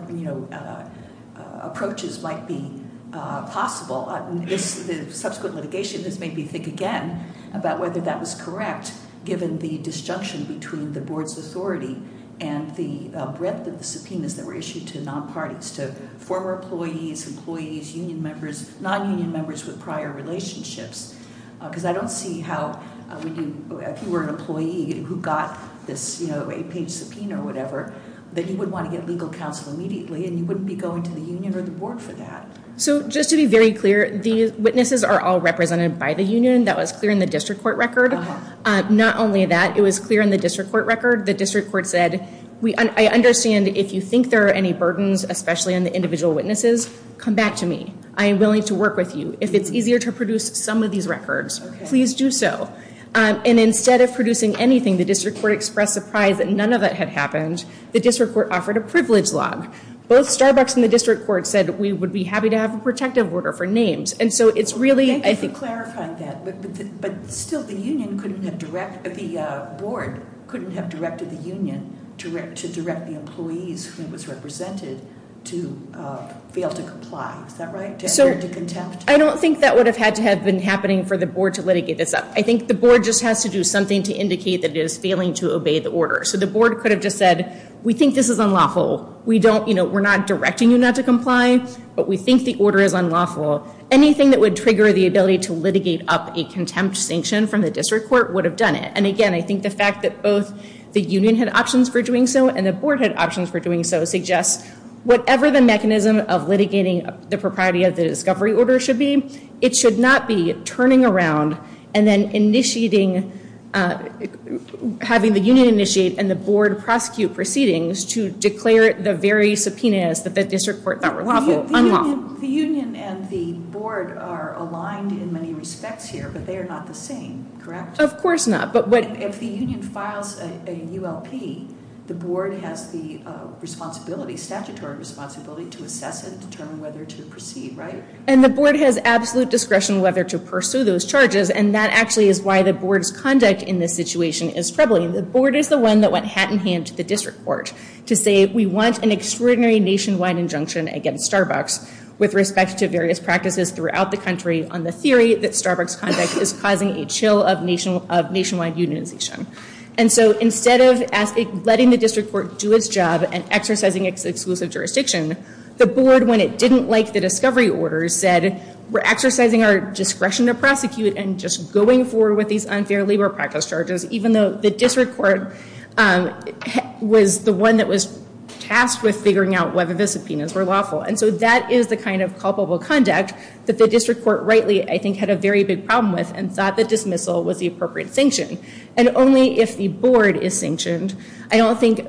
approaches might be possible. The subsequent litigation has made me think again about whether that was correct given the disjunction between the board's authority and the breadth of the subpoenas that were issued to non-parties, to former employees, employees, union members, Because I don't see how if you were an employee who got this eight page subpoena or whatever, that you would want to get legal counsel immediately and you wouldn't be going to the union or the board for that. So just to be very clear, the witnesses are all represented by the union. That was clear in the district court record. Not only that, it was clear in the district court record. The district court said, I understand if you think there are any burdens, especially on the individual witnesses, come back to me. I am willing to work with you. If it's easier to produce some of these records, please do so. And instead of producing anything, the district court expressed surprise that none of that had happened. The district court offered a privilege log. Both Starbucks and the district court said we would be happy to have a protective order for names. And so it's really, I think- Thank you for clarifying that. But still, the board couldn't have directed the union to direct the employees who was represented to fail to comply. Is that right? To attempt to- I don't think that would have had to have been happening for the board to litigate this up. I think the board just has to do something to indicate that it is failing to obey the order. So the board could have just said, we think this is unlawful. We're not directing you not to comply, but we think the order is unlawful. Anything that would trigger the ability to litigate up a contempt sanction from the district court would have done it. And again, I think the fact that both the union had options for doing so and the board had options for doing so suggests whatever the mechanism of litigating the propriety of the discovery order should be, it should not be turning around and then having the union initiate and the board prosecute proceedings to declare the very subpoenas that the district court thought were unlawful. The union and the board are aligned in many respects here, but they are not the same, correct? Of course not, but what- If the union files a ULP, the board has the statutory responsibility to assess and determine whether to proceed, right? And the board has absolute discretion whether to pursue those charges, and that actually is why the board's conduct in this situation is troubling. The board is the one that went hat in hand to the district court to say we want an extraordinary nationwide injunction against Starbucks with respect to various practices throughout the country on the theory that Starbucks conduct is causing a chill of nationwide unionization. And so instead of letting the district court do its job and exercising its exclusive jurisdiction, the board, when it didn't like the discovery order, said we're exercising our discretion to prosecute and just going forward with these unfair labor practice charges, even though the district court was the one that was tasked with figuring out whether the subpoenas were lawful. And so that is the kind of culpable conduct that the district court rightly, I think, had a very big problem with and thought the dismissal was the appropriate sanction. And only if the board is sanctioned. I don't think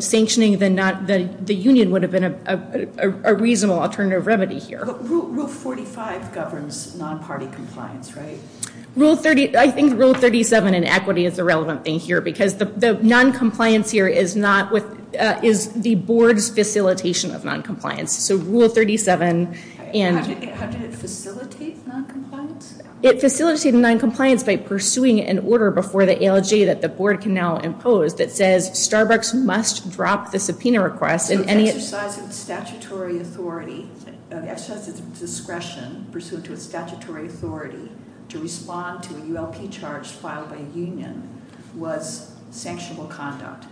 sanctioning the union would have been a reasonable alternative remedy here. Rule 45 governs non-party compliance, right? Rule 30, I think rule 37 in equity is the relevant thing here, because the non-compliance here is the board's facilitation of non-compliance. So rule 37 and. How did it facilitate non-compliance? It facilitated non-compliance by pursuing an order before the ALJ that the board can now impose that says Starbucks must drop the subpoena request. So the exercise of statutory authority, the exercise of discretion pursuant to a statutory authority to respond to a ULP charge filed by a union was sanctionable conduct.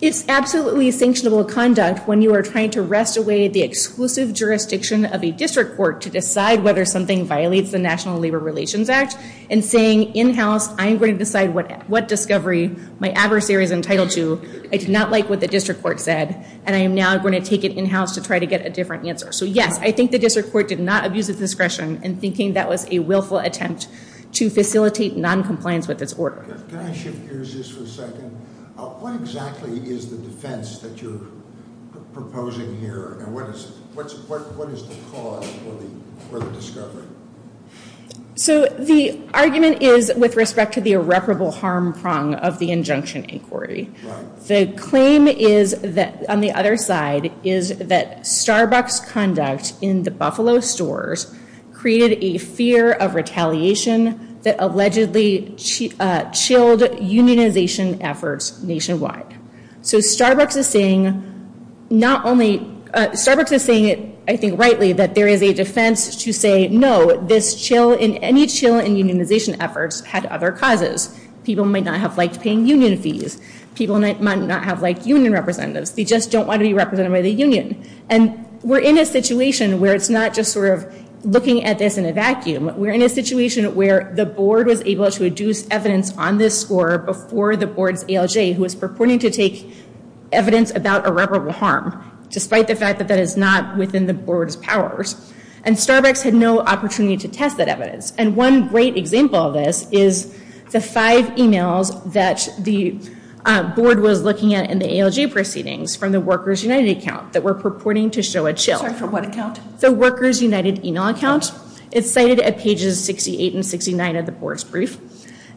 It's absolutely sanctionable conduct when you are trying to wrest away the exclusive jurisdiction of a district court to decide whether something violates the National Labor Relations Act and saying in-house, I'm going to decide what discovery my adversary is entitled to. I did not like what the district court said. And I am now going to take it in-house to try to get a different answer. So yes, I think the district court did not abuse of discretion in thinking that was a willful attempt to facilitate non-compliance with its order. Can I shift gears just for a second? What exactly is the defense that you're proposing here? And what is the cause for the discovery? So the argument is with respect to the irreparable harm prong of the injunction inquiry. The claim on the other side is that Starbucks conduct in the Buffalo stores created a fear of retaliation that allegedly chilled unionization efforts nationwide. So Starbucks is saying, I think rightly, that there is a defense to say, no, this chill in any chill in unionization efforts had other causes. People might not have liked paying union fees. People might not have liked union representatives. They just don't want to be represented by the union. And we're in a situation where it's not just sort of looking at this in a vacuum. We're in a situation where the board was able to adduce evidence on this score before the board's ALJ, who was purporting to take evidence about irreparable harm, despite the fact that that is not within the board's powers. And Starbucks had no opportunity to test that evidence. And one great example of this is the five emails that the board was looking at in the ALJ proceedings from the Workers United account that were purporting to show a chill. Sorry, from what account? The Workers United email account. It's cited at pages 68 and 69 of the board's brief.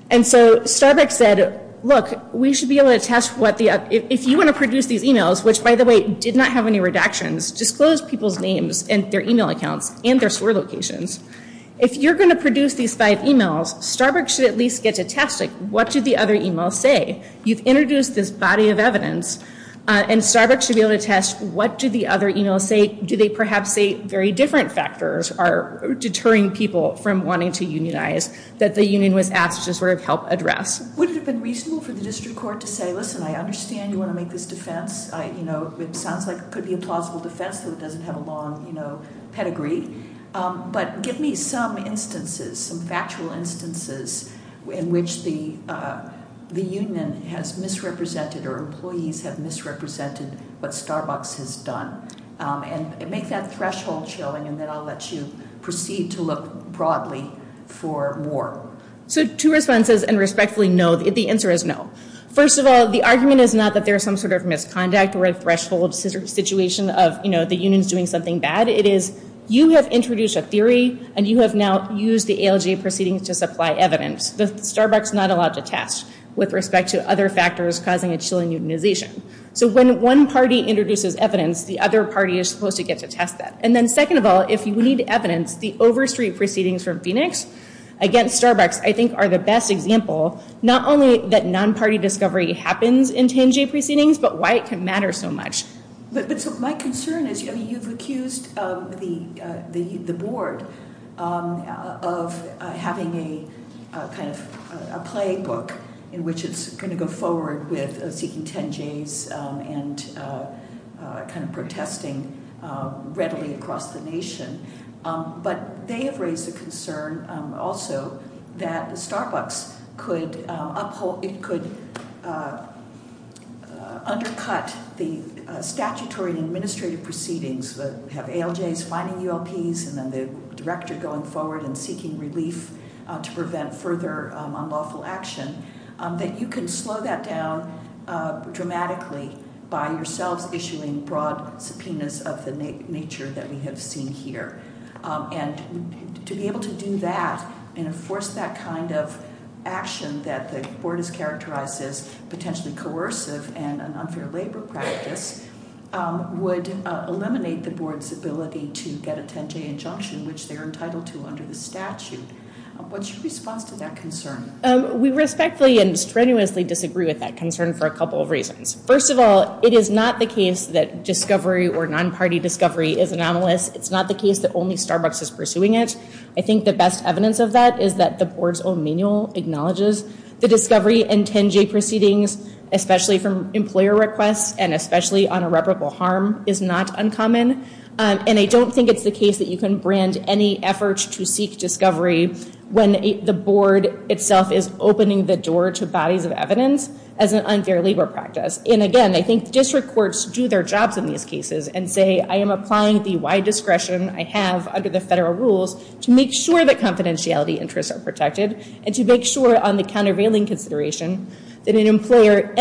And so Starbucks said, look, we should be able to test what the, if you want to produce these emails, which, by the way, did not have any redactions, disclose people's names and their email accounts and their store locations. If you're going to produce these five emails, Starbucks should at least get to test, like, what did the other email say? You've introduced this body of evidence, and Starbucks should be able to test, what did the other email say? Do they perhaps say very different factors are deterring people from wanting to unionize that the union was asked to sort of help address? Would it have been reasonable for the district court to say, listen, I understand you want to make this defense. It sounds like it could be a plausible defense, though it doesn't have a long pedigree. But give me some instances, some factual instances, in which the union has misrepresented or employees have misrepresented what Starbucks has done. And make that threshold showing, and then I'll let you proceed to look broadly for more. So two responses, and respectfully, no. The answer is no. First of all, the argument is not that there is some sort of misconduct or a threshold It is, you have introduced a theory, and you have now used the ALJ proceedings to supply evidence. That Starbucks is not allowed to test with respect to other factors causing a Chilean unionization. So when one party introduces evidence, the other party is supposed to get to test that. And then second of all, if you need evidence, the Overstreet proceedings from Phoenix against Starbucks, I think, are the best example. Not only that non-party discovery happens in 10J proceedings, but why it can matter so much. But my concern is, I mean, you've accused the board of having a kind of playbook in which it's going to go forward with seeking 10Js and kind of protesting readily across the nation. But they have raised the concern also that Starbucks could undercut the statutory and administrative proceedings that have ALJs finding ULPs, and then the director going forward and seeking relief to prevent further unlawful action. That you can slow that down dramatically by yourselves issuing broad subpoenas of the nature that we have seen here. And to be able to do that and enforce that kind of action that the board has characterized as potentially coercive and an unfair labor practice would eliminate the board's ability to get a 10J injunction, which they're entitled to under the statute. What's your response to that concern? We respectfully and strenuously disagree with that concern for a couple of reasons. First of all, it is not the case that discovery or non-party discovery is anomalous. It's not the case that only Starbucks is pursuing it. I think the best evidence of that is that the board's own manual acknowledges the discovery and 10J proceedings, especially from employer requests and especially on irreparable harm, is not uncommon. And I don't think it's the case that you can brand any effort to seek discovery when the board itself is opening the door to bodies of evidence as an unfair labor practice. And again, I think district courts do their jobs in these cases and say, I am applying the wide discretion I have under the federal rules to make sure that confidentiality interests are protected and to make sure on the countervailing consideration that any employer,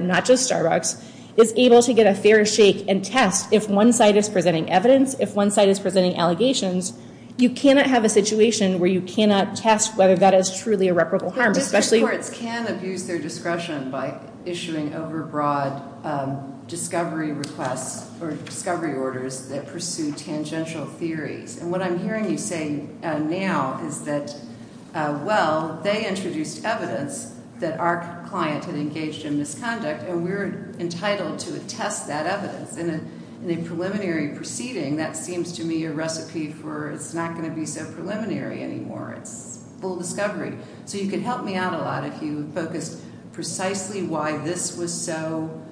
not just Starbucks, is able to get a fair shake and test if one side is presenting evidence, if one side is presenting allegations. You cannot have a situation where you cannot test whether that is truly irreparable harm. District courts can abuse their discretion by issuing overbroad discovery requests or discovery orders that pursue tangential theories. And what I'm hearing you say now is that, well, they introduced evidence that our client had engaged in misconduct, and we're entitled to attest that evidence. In a preliminary proceeding, that seems to me a recipe for it's not going to be so preliminary anymore. It's full discovery. So you could help me out a lot if you focused precisely why this was so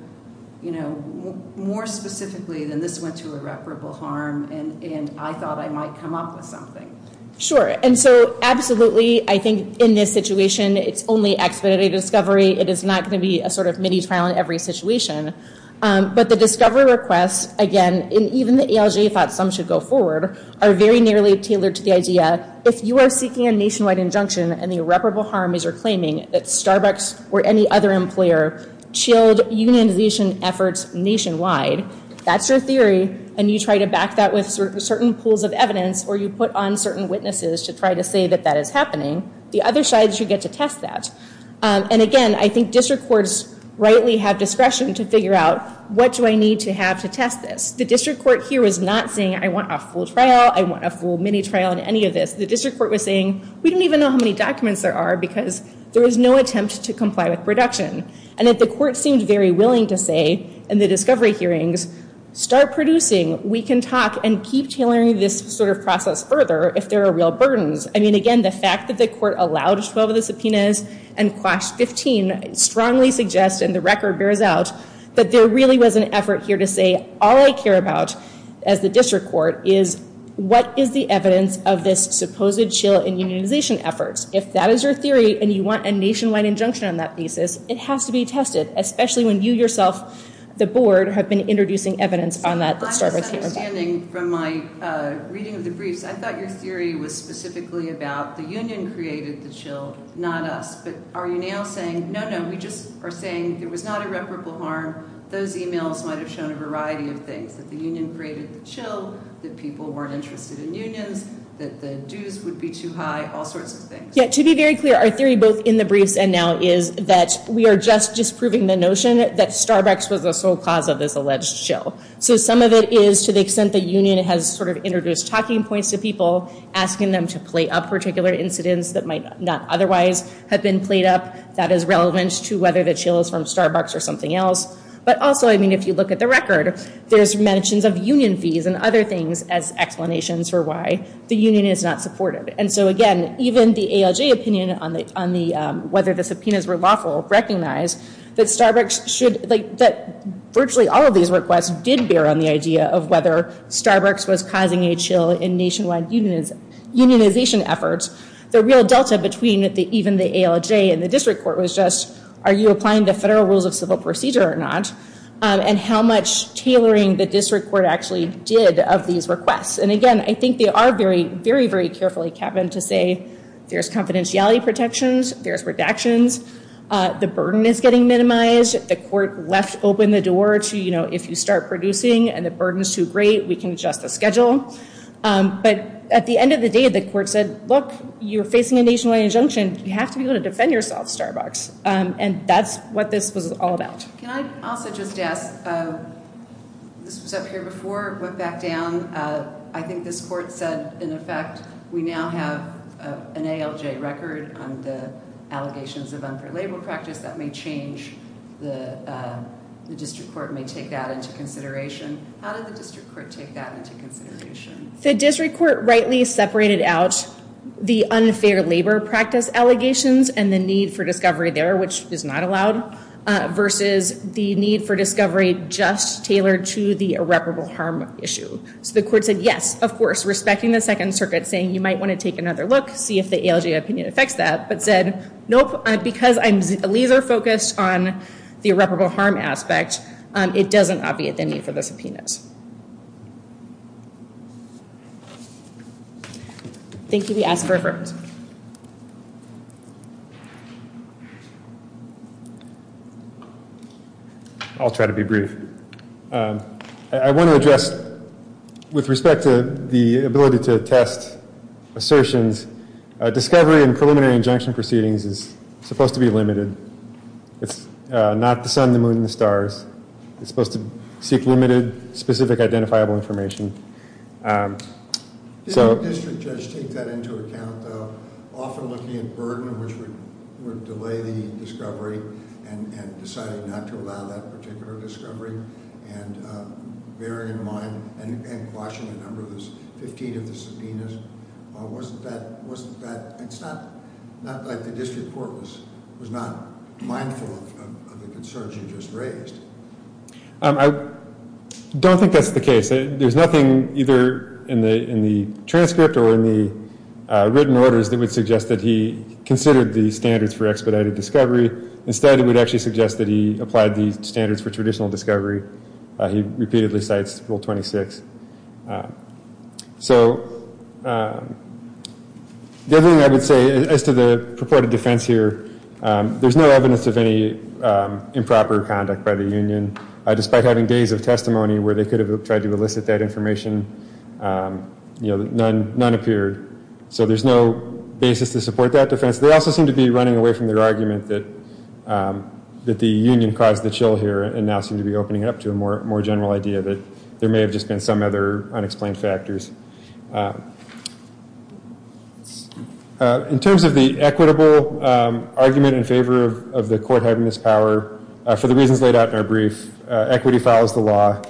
more specifically than this went to irreparable harm, and I thought I might come up with something. Sure, and so absolutely, I think in this situation, it's only expedited discovery. It is not going to be a sort of mini trial in every situation. But the discovery requests, again, and even the ALJ thought some should go forward, are very nearly tailored to the idea, if you are seeking a nationwide injunction and the irreparable harm is your claiming, that Starbucks or any other employer chilled unionization efforts nationwide. That's your theory, and you try to back that with certain pools of evidence, or you put on certain witnesses to try to say that that is happening. The other side should get to test that. And again, I think district courts rightly have discretion to figure out, what do I need to have to test this? The district court here was not saying, I want a full trial, I want a full mini trial, and any of this. The district court was saying, we don't even know how many documents there are, because there is no attempt to comply with production. And that the court seemed very willing to say, in the discovery hearings, start producing. We can talk and keep tailoring this sort of process further if there are real burdens. I mean, again, the fact that the court allowed 12 of the subpoenas and quashed 15 strongly suggests, and the record bears out, that there really was an effort here to say, all I care about as the district court is, what is the evidence of this supposed chill and unionization efforts? If that is your theory, and you want a nationwide injunction on that thesis, it has to be tested, especially when you yourself, the board, have been introducing evidence on that discovery hearing. I'm just understanding from my reading of the briefs, I thought your theory was specifically about the union created the chill, not us. But are you now saying, no, no, we just are saying there was not irreparable harm, those emails might have shown a variety of things, that the union created the chill, that people weren't interested in unions, that the dues would be too high, all sorts of things. To be very clear, our theory, both in the briefs and now, is that we are just disproving the notion that Starbucks was the sole cause of this alleged chill. So some of it is, to the extent the union has introduced talking points to people, asking them to play up particular incidents that might not otherwise have been played up, that is relevant to whether the chill is from Starbucks or something else. But also, if you look at the record, there's mentions of union fees and other things as explanations for why the union is not supported. And so again, even the ALJ opinion on whether the subpoenas were lawful recognize that virtually all of these requests did bear on the idea of whether Starbucks was causing a chill in nationwide unionization efforts. The real delta between even the ALJ and the district court was just, are you applying the federal rules of civil procedure or not? And how much tailoring the district court actually did of these requests. And again, I think they are very, very, very carefully kept in to say, there's confidentiality protections. There's redactions. The burden is getting minimized. The court left open the door to, if you start producing and the burden is too great, we can adjust the schedule. But at the end of the day, the court said, look, you're facing a nationwide injunction. You have to be able to defend yourself, Starbucks. And that's what this was all about. Can I also just ask, this was up here before, but back down. I think this court said, in effect, we now have an ALJ record on the allegations of unfair labor practice that may change. The district court may take that into consideration. How did the district court take that into consideration? The district court rightly separated out the unfair labor practice allegations and the need for discovery there, which is not allowed, versus the need for discovery just tailored to the irreparable harm issue. So the court said, yes, of course, respecting the Second Circuit saying, you might want to take another look, see if the ALJ opinion affects that. But said, nope, because I'm laser focused on the irreparable harm aspect, it doesn't obviate the need for the subpoena. Thank you. We ask for reference. Reference? I'll try to be brief. I want to address, with respect to the ability to test assertions, discovery in preliminary injunction proceedings is supposed to be limited. It's not the sun, the moon, and the stars. It's supposed to seek limited, specific, identifiable information. Did the district judge take that into account, though, often looking at burden, which would delay the discovery, and decided not to allow that particular discovery, and bearing in mind and quashing a number of those, 15 of the subpoenas? Wasn't that, it's not like the district court was not mindful of the concerns you just raised. I don't think that's the case. There's nothing, either in the transcript or in the written orders, that would suggest that he considered the standards for expedited discovery. Instead, it would actually suggest that he applied the standards for traditional discovery. He repeatedly cites Rule 26. So the other thing I would say, as to the purported defense here, there's no evidence of any improper conduct by the union, despite having days of testimony where they could have tried to elicit that information, none appeared. So there's no basis to support that defense. They also seem to be running away from their argument that the union caused the chill here, and now seem to be opening up to a more general idea that there may have just been some other unexplained factors. In terms of the equitable argument in favor of the court having this power, for the reasons laid out in our brief, equity follows the law.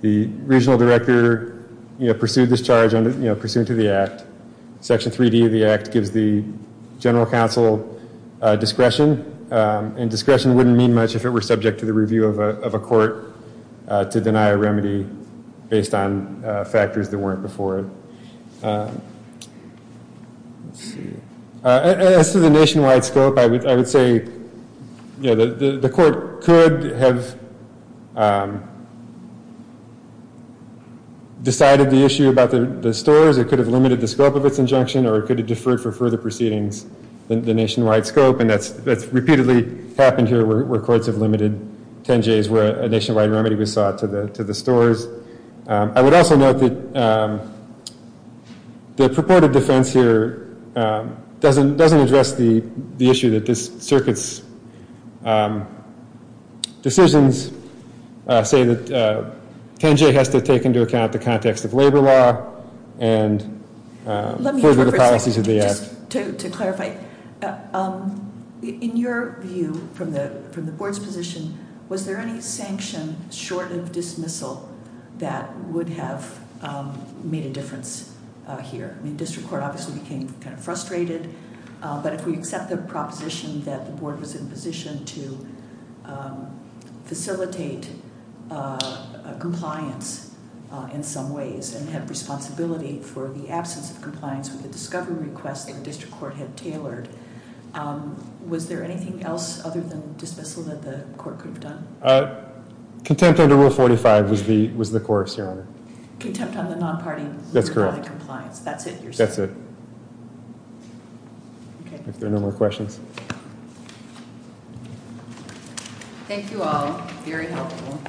The regional director pursued this charge pursuant to the act. Section 3D of the act gives the general counsel discretion. And discretion wouldn't mean much if it were subject to the review of a court to deny a remedy based on factors that weren't before it. As to the nationwide scope, I would say the court could have decided the issue about the stores. It could have limited the scope of its injunction, or it could have deferred for further proceedings than the nationwide scope. And that's repeatedly happened here where courts have limited 10 J's where a nationwide remedy was sought to the stores. I would also note that the purported defense here doesn't address the issue that this circuit's decisions say that 10 J has to take into account the context of labor law and further the policies of the act. To clarify, in your view from the board's position, was there any sanction short of dismissal that would have made a difference here? District Court obviously became kind of frustrated. But if we accept the proposition that the board was in position to facilitate compliance in some ways and have responsibility for the absence of compliance with the discovery request that the district court had tailored, was there anything else other than dismissal that the court could have done? Contempt under Rule 45 was the course, Your Honor. Contempt on the non-party compliance. That's it, Your Honor. That's it. If there are no more questions. Thank you all. Very helpful.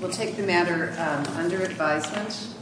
We'll take the matter under advisement.